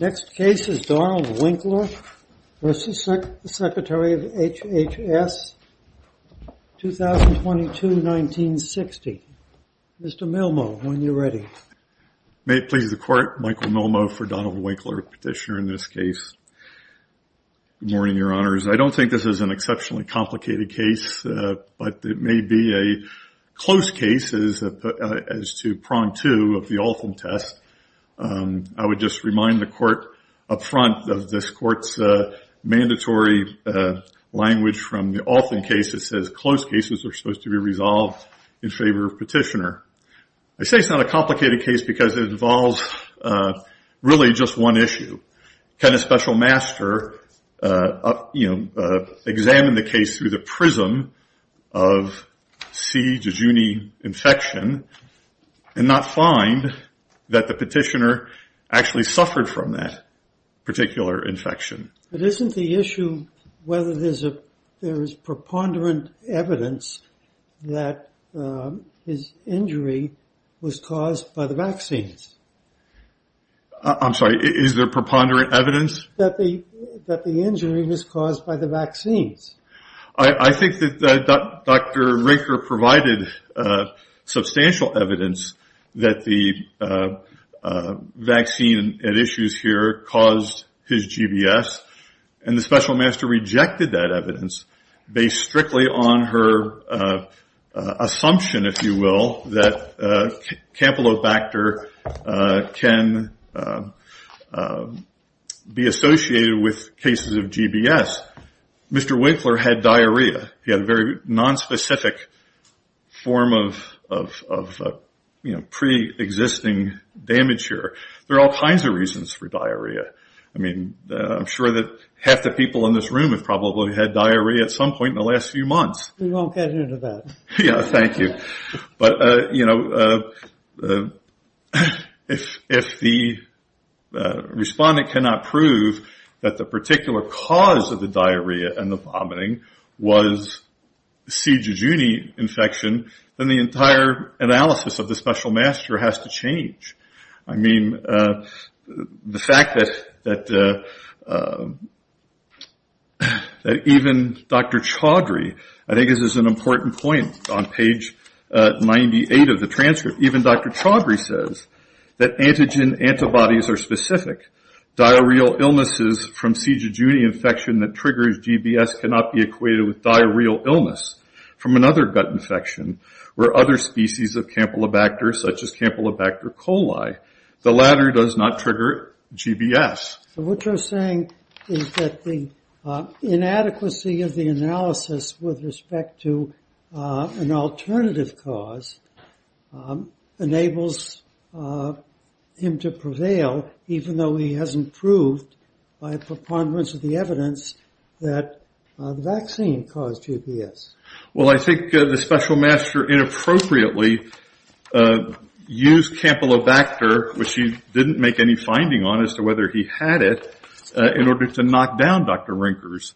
Next case is Donald Winkler v. Secretary of HHS, 2022-1960. Mr. Milmo, when you're ready. May it please the Court, Michael Milmo for Donald Winkler, petitioner in this case. Good morning, Your Honors. I don't think this is an exceptionally complicated case, but it may be a close case as to prong two of the Alton test. I would just remind the Court up front of this Court's mandatory language from the Alton case that says close cases are supposed to be resolved in favor of petitioner. I say it's not a complicated case because it involves really just one issue. Can a special master, you know, examine the case through the prism of C. Jejuni infection and not find that the petitioner actually suffered from that particular infection? But isn't the issue whether there is preponderant evidence that his injury was caused by the vaccines? I'm sorry, is there preponderant evidence? That the injury was caused by the vaccines. I think that Dr. Rinker provided substantial evidence that the vaccine at issues here caused his GBS, and the special master rejected that evidence based on her assumption, if you will, that Campylobacter can be associated with cases of GBS. Mr. Winkler had diarrhea. He had a very nonspecific form of preexisting damage here. There are all kinds of reasons for diarrhea. I mean, I'm sure that half the people in this room probably had diarrhea at some point in the last few months. We won't get into that. Thank you. But, you know, if the respondent cannot prove that the particular cause of the diarrhea and the vomiting was C. Jejuni infection, then the entire analysis of the special master has to even Dr. Chaudhry. I think this is an important point on page 98 of the transcript. Even Dr. Chaudhry says that antigen antibodies are specific. Diarrheal illnesses from C. Jejuni infection that triggers GBS cannot be equated with diarrheal illness from another gut infection or other species of Campylobacter, such as Campylobacter coli. The latter does not trigger GBS. So what you're saying is that the inadequacy of the analysis with respect to an alternative cause enables him to prevail even though he hasn't proved by preponderance of the evidence that the vaccine caused GBS. Well, I think the special master inappropriately used Campylobacter, which he didn't make any finding on as to whether he had it, in order to knock down Dr. Rinker's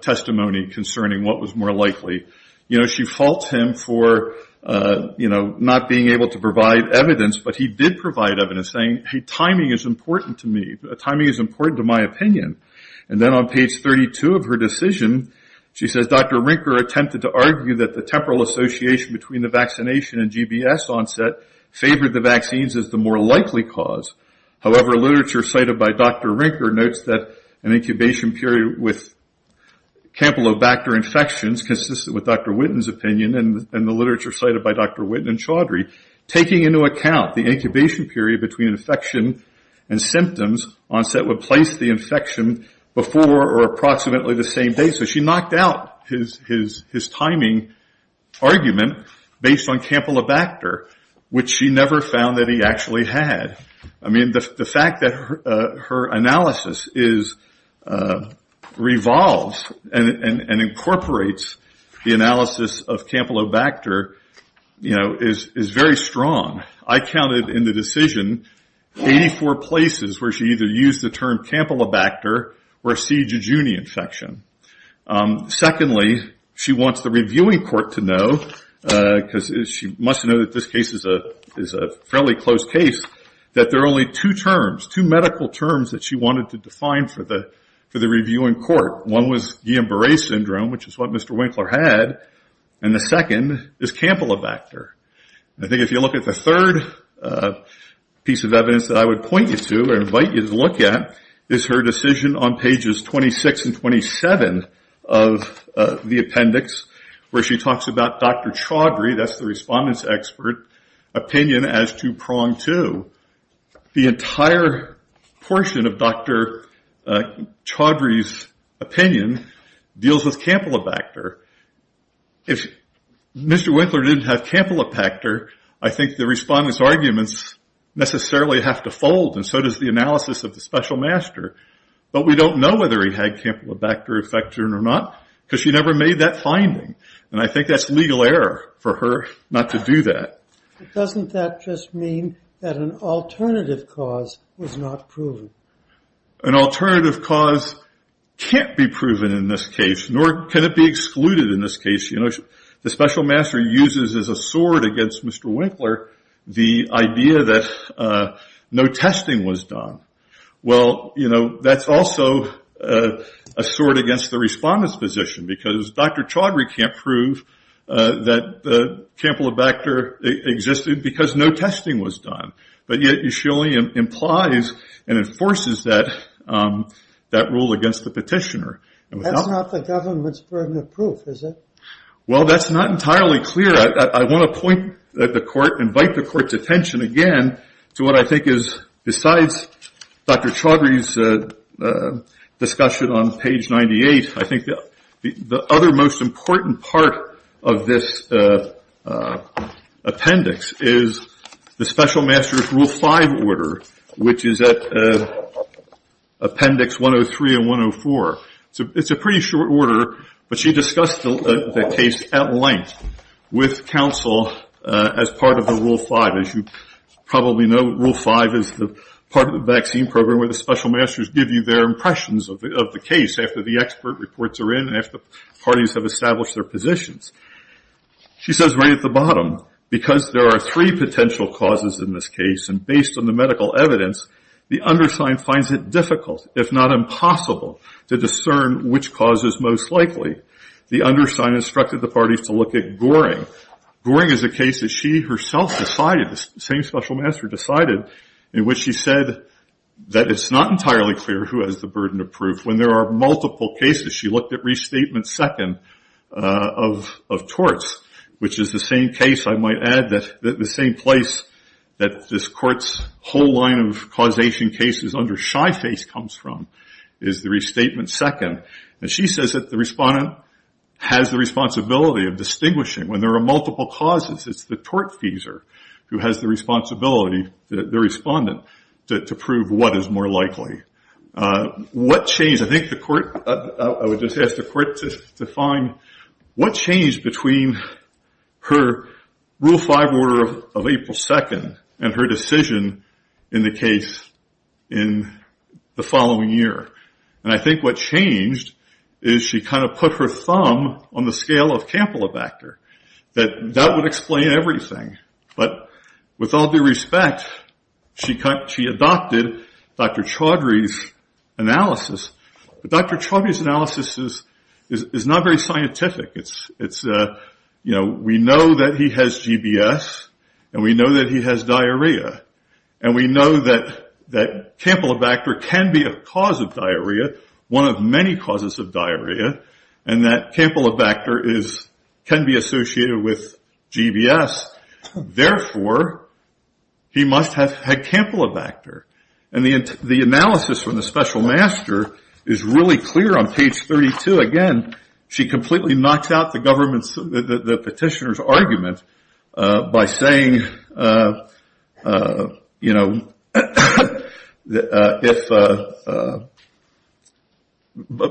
testimony concerning what was more likely. You know, she faults him for, you know, not being able to provide evidence, but he did provide evidence saying, hey, timing is important to me. Timing is important to my opinion. And then on page 32 of her decision, she says Dr. Rinker attempted to argue that the temporal association between vaccination and GBS onset favored the vaccines as the more likely cause. However, literature cited by Dr. Rinker notes that an incubation period with Campylobacter infections consistent with Dr. Witten's opinion and the literature cited by Dr. Witten and Chaudhry, taking into account the incubation period between infection and symptoms, onset would place the infection before or approximately the same day. So she knocked out his timing argument based on Campylobacter, which she never found that he actually had. I mean, the fact that her analysis revolves and incorporates the analysis of Campylobacter, you know, is very strong. I counted in the decision 84 places where she either used the term Campylobacter or C. jejuni infection. Secondly, she wants the reviewing court to know, because she must know that this case is a fairly close case, that there are only two terms, two medical terms that she wanted to define for the reviewing court. One was Guillain-Barre syndrome, which is what Mr. Winkler had, and the second is Campylobacter. I think if you look at the third piece of evidence that I would point you to or invite you to look at is her decision on pages 26 and 27 of the appendix, where she talks about Dr. Chaudhry, that's the respondent's expert opinion, as two-pronged too. The entire portion of Dr. Chaudhry's opinion deals with Campylobacter. I think the respondent's arguments necessarily have to fold, and so does the analysis of the special master. But we don't know whether he had Campylobacter infection or not, because she never made that finding, and I think that's legal error for her not to do that. Dr. Chaudhry Doesn't that just mean that an alternative cause was not proven? Dr. McKeon An alternative cause can't be proven in this case, nor can it be excluded in this case. The special master uses as a sword against Mr. Winkler the idea that no testing was done. Well, that's also a sword against the respondent's position, because Dr. Chaudhry can't prove that Campylobacter existed because no testing was done, but yet she only implies and enforces that rule against the petitioner. Dr. Chaudhry That's not the government's proof, is it? Dr. McKeon Well, that's not entirely clear. I want to point at the court, invite the court's attention again to what I think is, besides Dr. Chaudhry's discussion on page 98, I think the other most important part of this appendix is the special master's rule 5 order, which is at appendix 103 and 104. It's a pretty short order, but she discussed the case at length with counsel as part of the rule 5. As you probably know, rule 5 is the part of the vaccine program where the special masters give you their impressions of the case after the expert reports are in, and after the parties have established their positions. She says right at the bottom, because there are three potential causes in this case, and based on the medical evidence, the undersigned finds it difficult, if not impossible, to discern which cause is most likely. The undersigned instructed the parties to look at Goring. Goring is a case that she herself decided, the same special master decided, in which she said that it's not entirely clear who has the burden of proof. When there are multiple cases, she looked at restatement second of torts, which is the same case, I might add, that the same place that this court's line of causation cases under shy face comes from, is the restatement second. She says that the respondent has the responsibility of distinguishing when there are multiple causes. It's the tortfeasor who has the responsibility, the respondent, to prove what is more likely. What changed, I think the court, I would just ask the court to define what changed between her rule five order of April 2nd and her decision in the case in the following year. I think what changed is she kind of put her thumb on the scale of Campylobacter. That would explain everything, but with all due respect, she adopted Dr. Chaudhry's analysis. Dr. Chaudhry's analysis is not very scientific. We know that he has GBS, and we know that he has diarrhea, and we know that Campylobacter can be a cause of diarrhea, one of many causes of diarrhea, and that Campylobacter can be associated with really clear on page 32. Again, she completely knocks out the petitioner's argument by saying,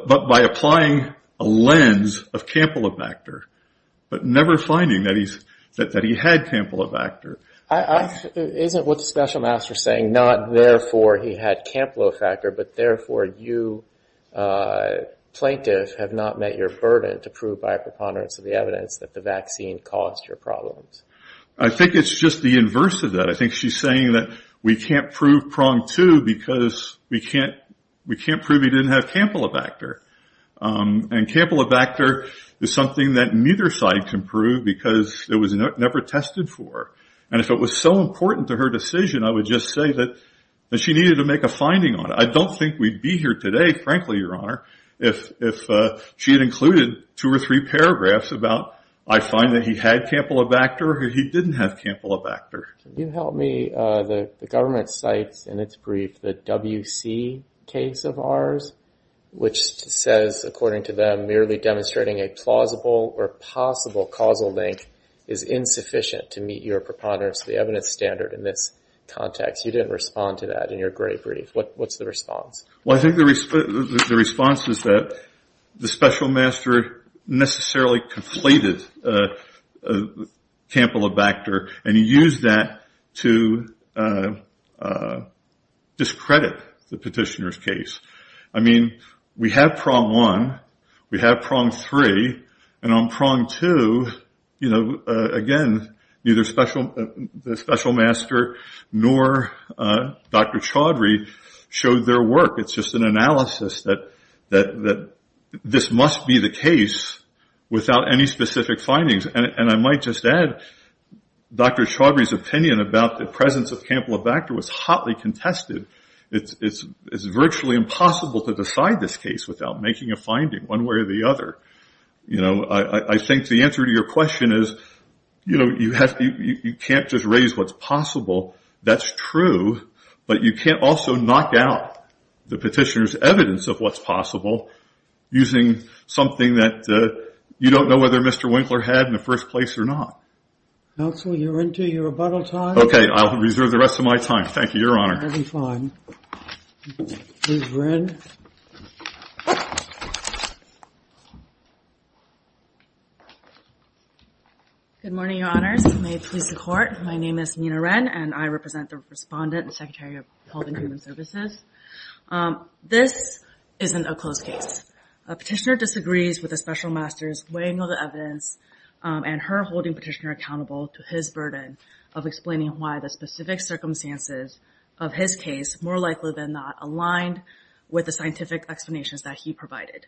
by applying a lens of Campylobacter, but never finding that he had Campylobacter. It isn't what the special master is saying, not therefore he had Campylobacter, but therefore you, plaintiff, have not met your burden to prove by a preponderance of the evidence that the vaccine caused your problems. I think it's just the inverse of that. I think she's saying that we can't prove prong two because we can't prove he didn't have Campylobacter. Campylobacter is something that neither side can prove because it was never tested for. If it was so important to her decision, I would just say that she needed to make a finding on it. I don't think we'd be here today, frankly, your honor, if she had included two or three paragraphs about, I find that he had Campylobacter or he didn't have Campylobacter. Can you help me? The government cites in its brief the WC case of ours, which says, according to them, merely demonstrating a plausible or possible causal link is insufficient to meet your preponderance of the evidence standard in this context. You didn't respond to that in your great brief. What's the response? Well, I think the response is that the special master necessarily conflated Campylobacter and used that to discredit the petitioner's case. I mean, we have prong one. We have prong three. On prong two, again, neither the special master nor Dr. Chaudhry showed their work. It's just an analysis that this must be the case without any specific findings. I might just add, Dr. Chaudhry's opinion about the presence of Campylobacter was hotly contested. It's virtually impossible to decide this case without making a finding, one way or the other. I think the answer to your question is you can't just raise what's possible. That's true, but you can't also knock out the petitioner's evidence of what's possible using something that you don't know whether Mr. Winkler had in the first place or not. Counsel, you're into your rebuttal time? Okay, I'll reserve the rest of my time. Thank you, Your Honor. Good morning, Your Honors. May it please the Court. My name is Nina Wren, and I represent the Respondent and Secretary of Health and Human Services. This isn't a closed case. A petitioner disagrees with a special master's weighing all the evidence, and her holding petitioner accountable to his burden of explaining why the specific circumstances of his case, more likely than not, aligned with the scientific explanations that he provided.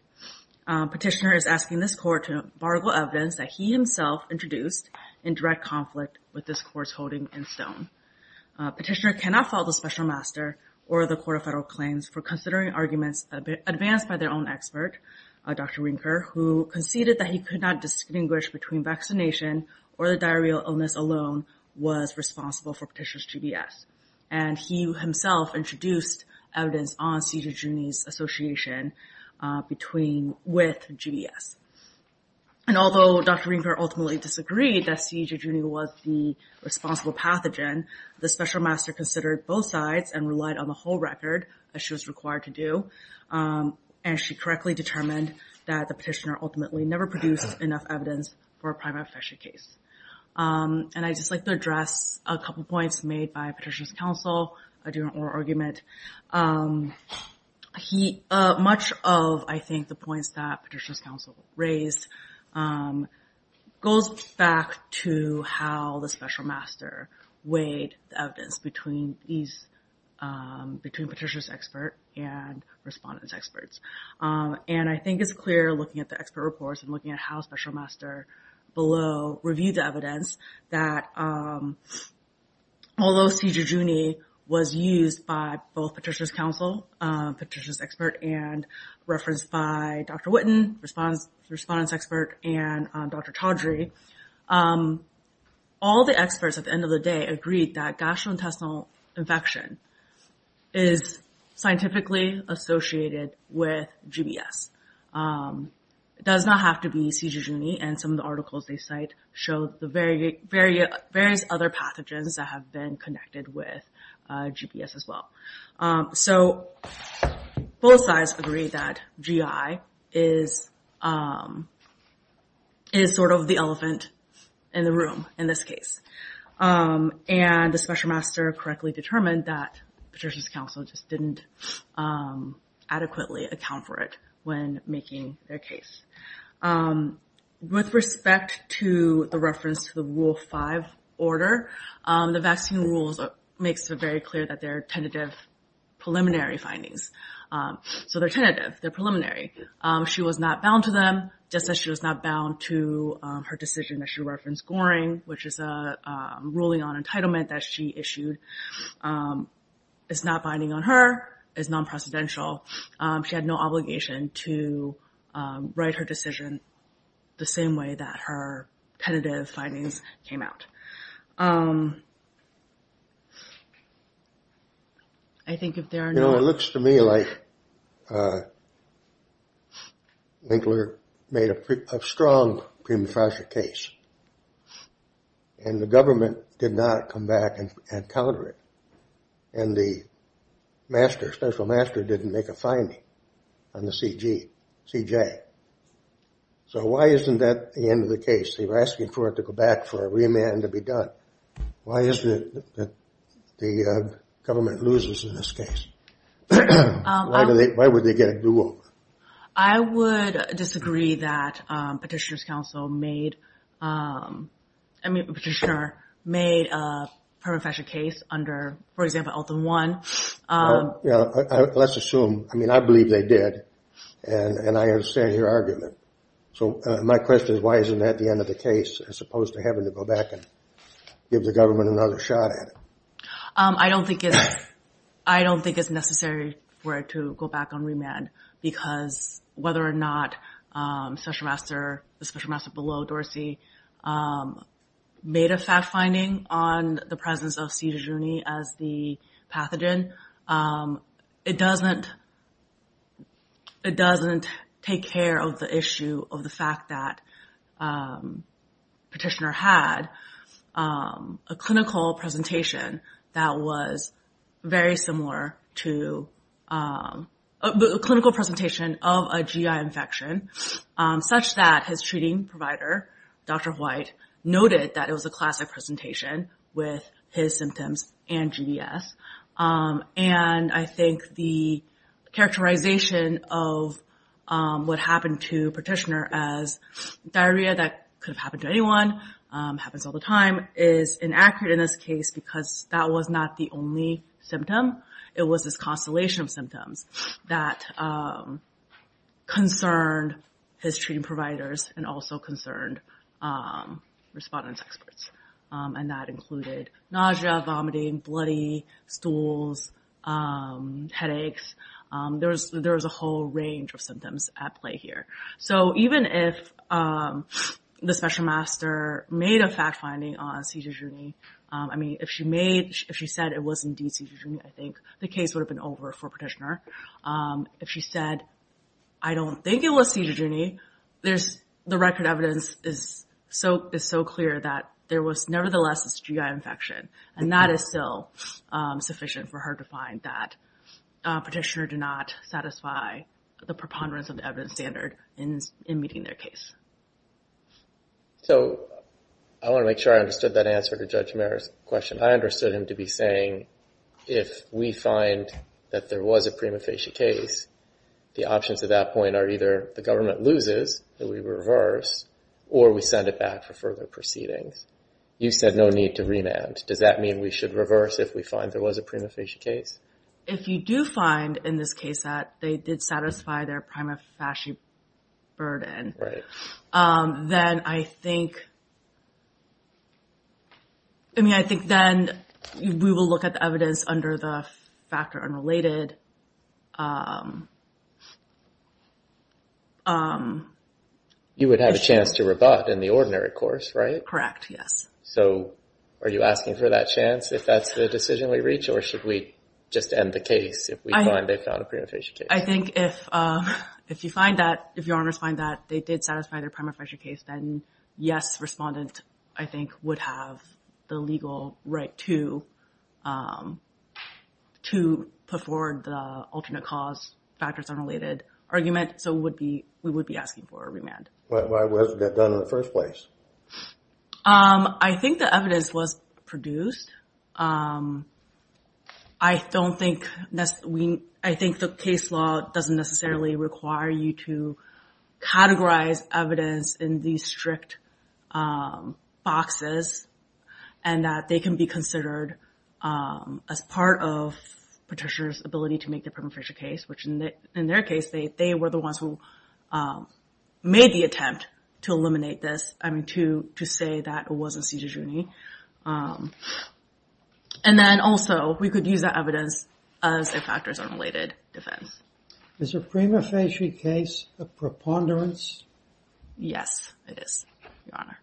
Petitioner is asking this Court to embargo evidence that he himself introduced in direct conflict with this Court's holding in stone. Petitioner cannot fault the special master or the Court of Federal Claims for considering arguments advanced by their own expert, Dr. Winkler, who conceded that he could not distinguish between vaccination or the diarrheal illness alone was responsible for Petitioner's GBS. And he himself introduced evidence on C. jejuni's association with GBS. And although Dr. Winkler ultimately disagreed that C. jejuni was the responsible pathogen, the special master considered both sides and relied on the whole record, as she was required to do. And she correctly determined that the petitioner ultimately never produced enough evidence for a primary infection case. And I'd just like to address a couple points made by Petitioner's counsel during oral argument. Much of, I think, the points that Petitioner's counsel raised goes back to how the special master weighed the evidence between Petitioner's expert and respondent's experts. And I think it's clear looking at the expert reports and looking at how special master below reviewed the evidence that although C. jejuni was used by both Petitioner's counsel, Petitioner's expert, and referenced by Dr. Witten, the respondent's expert, and Dr. Chaudhry, all the experts at the end of the agreed that gastrointestinal infection is scientifically associated with GBS. It does not have to be C. jejuni, and some of the articles they cite show the various other pathogens that have been connected with GBS as well. So both sides agree that GI is sort of the and the special master correctly determined that Petitioner's counsel just didn't adequately account for it when making their case. With respect to the reference to the Rule 5 order, the vaccine rules makes it very clear that they're tentative preliminary findings. So they're tentative, they're preliminary. She was not bound to them, just as she was not bound to her decision that she referenced Goring, which is a ruling on entitlement that she issued. It's not binding on her, it's non-precedential. She had no obligation to write her decision the same way that her tentative findings came out. It looks to me like Winkler made a strong pre-metastatic case, and the government did not come back and counter it, and the special master didn't make a finding on the C. j. So why isn't that the end of the case? They were asking for it to go back for a remand to be done. Why isn't it that the government loses in this case? Why would they get a do-over? I would disagree that Petitioner's counsel made made a permanent fashion case under, for example, Eltham 1. Let's assume, I mean I believe they did, and I understand your argument. So my question is why isn't that the end of the case as opposed to having to go back and give the government another shot at it? I don't think it's necessary for it to go back on remand because whether or not special master, the special master below Dorsey, made a fact finding on the presence of C. juni as the pathogen, it doesn't take care of the issue of the fact that Petitioner had a clinical presentation that was very similar to a clinical presentation of a G.I. infection such that his was a G.I. infection. I think the characterization of what happened to Petitioner as diarrhea that could have happened to anyone, happens all the time, is inaccurate in this case because that was not the only symptom. It was this constellation of symptoms that concerned his treating providers and also concerned respondents experts, and that included nausea, vomiting, bloody stools, headaches. There's a whole range of symptoms at play here. So even if the special master made a fact finding on C. juni, I mean if she made, if she said it was indeed C. juni, I think the case would have been over for Petitioner. If she said I don't think it was C. juni, the record evidence is so clear that there was nevertheless this G.I. infection, and that is still sufficient for her to find that Petitioner did not satisfy the preponderance of the evidence standard in meeting their case. So I want to make sure I understood that answer to Judge Merritt's question. I understood him to be saying if we find that there was a prima facie case, the options at that point are either the government loses, that we reverse, or we send it back for further proceedings. You said no need to remand. Does that mean we should reverse if we find there was a prima facie case? If you do find in this case that they did satisfy their prima facie burden, then I think, I mean I think then we will look at the evidence under the factor unrelated. You would have a chance to rebut in the ordinary course, right? Correct, yes. So are you asking for that chance if that's the decision we reach, or should we just end the case if we find they found a prima facie case? I think if you find that, if your honors find that they did satisfy their prima facie case, then yes, respondent I think would have the legal right to put forward the alternate cause factors unrelated argument. So we would be asking for a remand. Why wasn't that done in the first place? I think the evidence was produced. I don't think, I think the case law doesn't necessarily require you to categorize evidence in these strict boxes, and that they can be considered as part of petitioner's ability to make their prima facie case, which in their case, they were the ones who made the attempt to eliminate this, I mean to say that it wasn't a caesarean section. And then also, we could use that evidence as a factors unrelated defense. Is a prima facie case a preponderance? Yes, it is, your honor.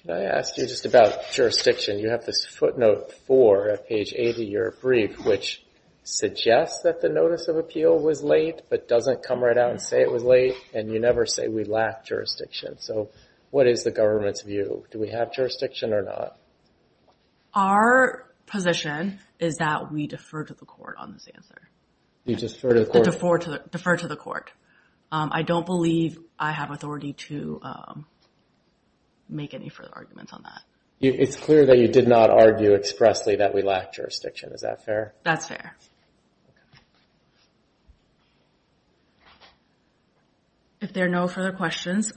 Can I ask you just about jurisdiction? You have this footnote four at page 80 of your brief, which suggests that the notice of appeal was late, but doesn't come right out and say it was late, and you never say we lack jurisdiction. So what is the government's view? Do we have jurisdiction or not? Our position is that we defer to the court on this answer. You defer to the court? Defer to the court. I don't believe I have authority to make any further arguments on that. It's clear that you did not argue expressly that we lack jurisdiction. Is that fair? That's fair. Okay. If there are no further questions,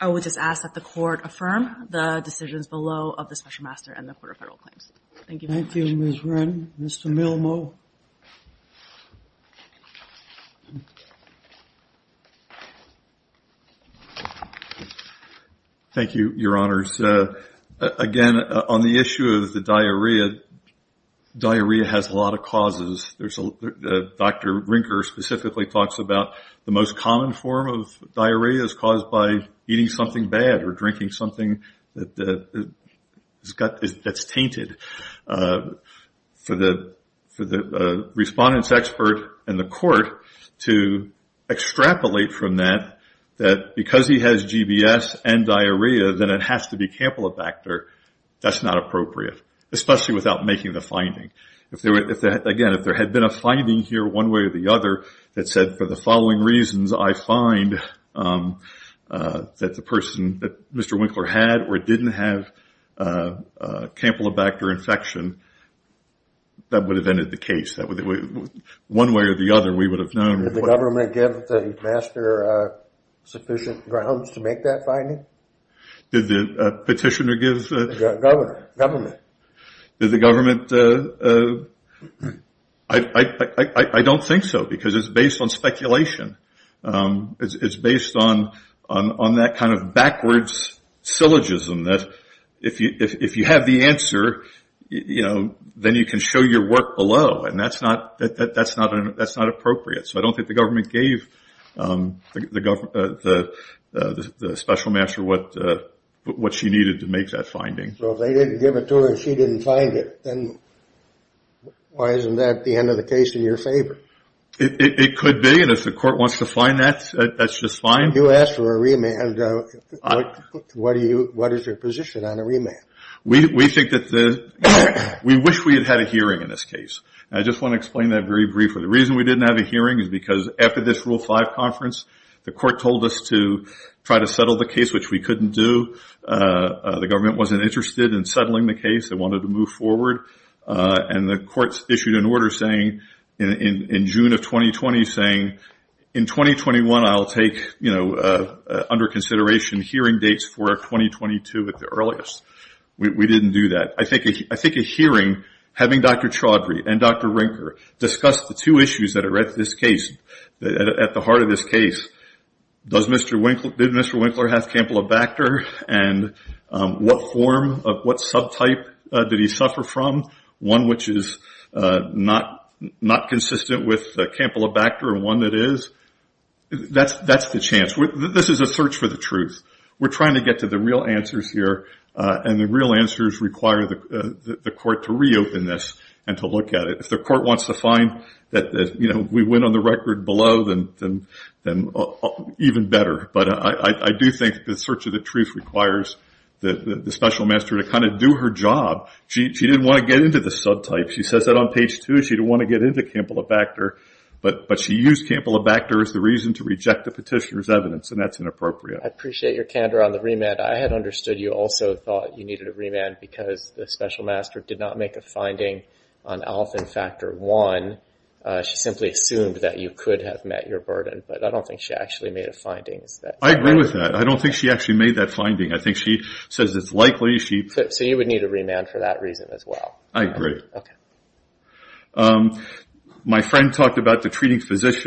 I would just ask that the court affirm the decisions below of the Special Master and the Court of Federal Claims. Thank you. Thank you, Ms. Wren. Mr. Milmo. Thank you, your honors. Again, on the issue of the diarrhea, diarrhea has a lot of causes. Dr. Rinker specifically talks about the most common form of diarrhea is caused by eating something bad or drinking something that's tainted. For the most common form of diarrhea, respondents expert and the court to extrapolate from that, that because he has GBS and diarrhea, then it has to be Campylobacter, that's not appropriate, especially without making the finding. Again, if there had been a finding here one way or the other that said for the following reasons, I find that the person that Mr. Winkler had or didn't have Campylobacter infection, that would have ended the case. One way or the other, we would have known. Did the government give the master sufficient grounds to make that finding? Did the petitioner give? Government. Did the government? I don't think so because it's based on speculation. It's based on that backwards syllogism that if you have the answer, then you can show your work below. That's not appropriate. I don't think the government gave the special master what she needed to make that finding. If they didn't give it to her and she didn't find it, then why isn't that the end of the case in your favor? It could be. If the court wants to find that, that's just fine. You asked for a remand. What is your position on a remand? We wish we had had a hearing in this case. I just want to explain that very briefly. The reason we didn't have a hearing is because after this Rule 5 conference, the court told us to try to settle the case, which we couldn't do. The government wasn't interested in settling the case. They wanted to move forward. The courts issued an order saying in June of 2020 saying, in 2021, I'll take under consideration hearing dates for 2022 at the earliest. We didn't do that. I think a hearing, having Dr. Chaudhry and Dr. Rinker discuss the two issues that are at the heart of this case, did Mr. Winkler have Campylobacter? What form, what subtype did he suffer from? One which is not consistent with Campylobacter and one that is? That's the chance. This is a search for the truth. We're trying to get to the real answers here, and the real answers require the court to reopen this and to look at it. If the court wants to find that we went on the record below, then even better. I do think the search of the truth requires the special master to do her job. She didn't want to get into the subtype. She says that on page two. She didn't want to get into Campylobacter, but she used Campylobacter as the reason to reject the petitioner's evidence, and that's inappropriate. I appreciate your candor on the remand. I had understood you also thought you needed a remand because the special master did not make a finding on alpha factor one. She simply assumed that you could have met your burden, but I don't think she actually made a finding. I agree with that. I don't think she actually made that finding. I think she says it's likely. You would need a remand for that reason as well. I agree. My friend talked about the treating physicians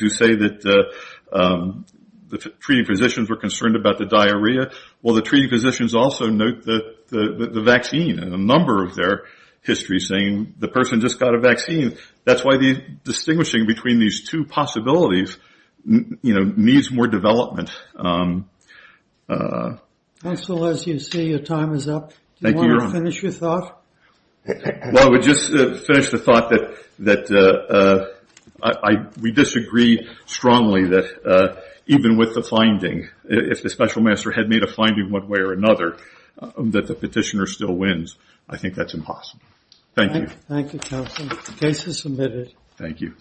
who say that the treating physicians were concerned about the diarrhea. The treating physicians also note the vaccine and a number of their histories saying the person just got a vaccine. That's why the more development. Counsel, as you see, your time is up. Do you want to finish your thought? Well, I would just finish the thought that we disagree strongly that even with the finding, if the special master had made a finding one way or another, that the petitioner still wins, I think that's impossible. Thank you. Thank you, counsel. The case is submitted. Thank you.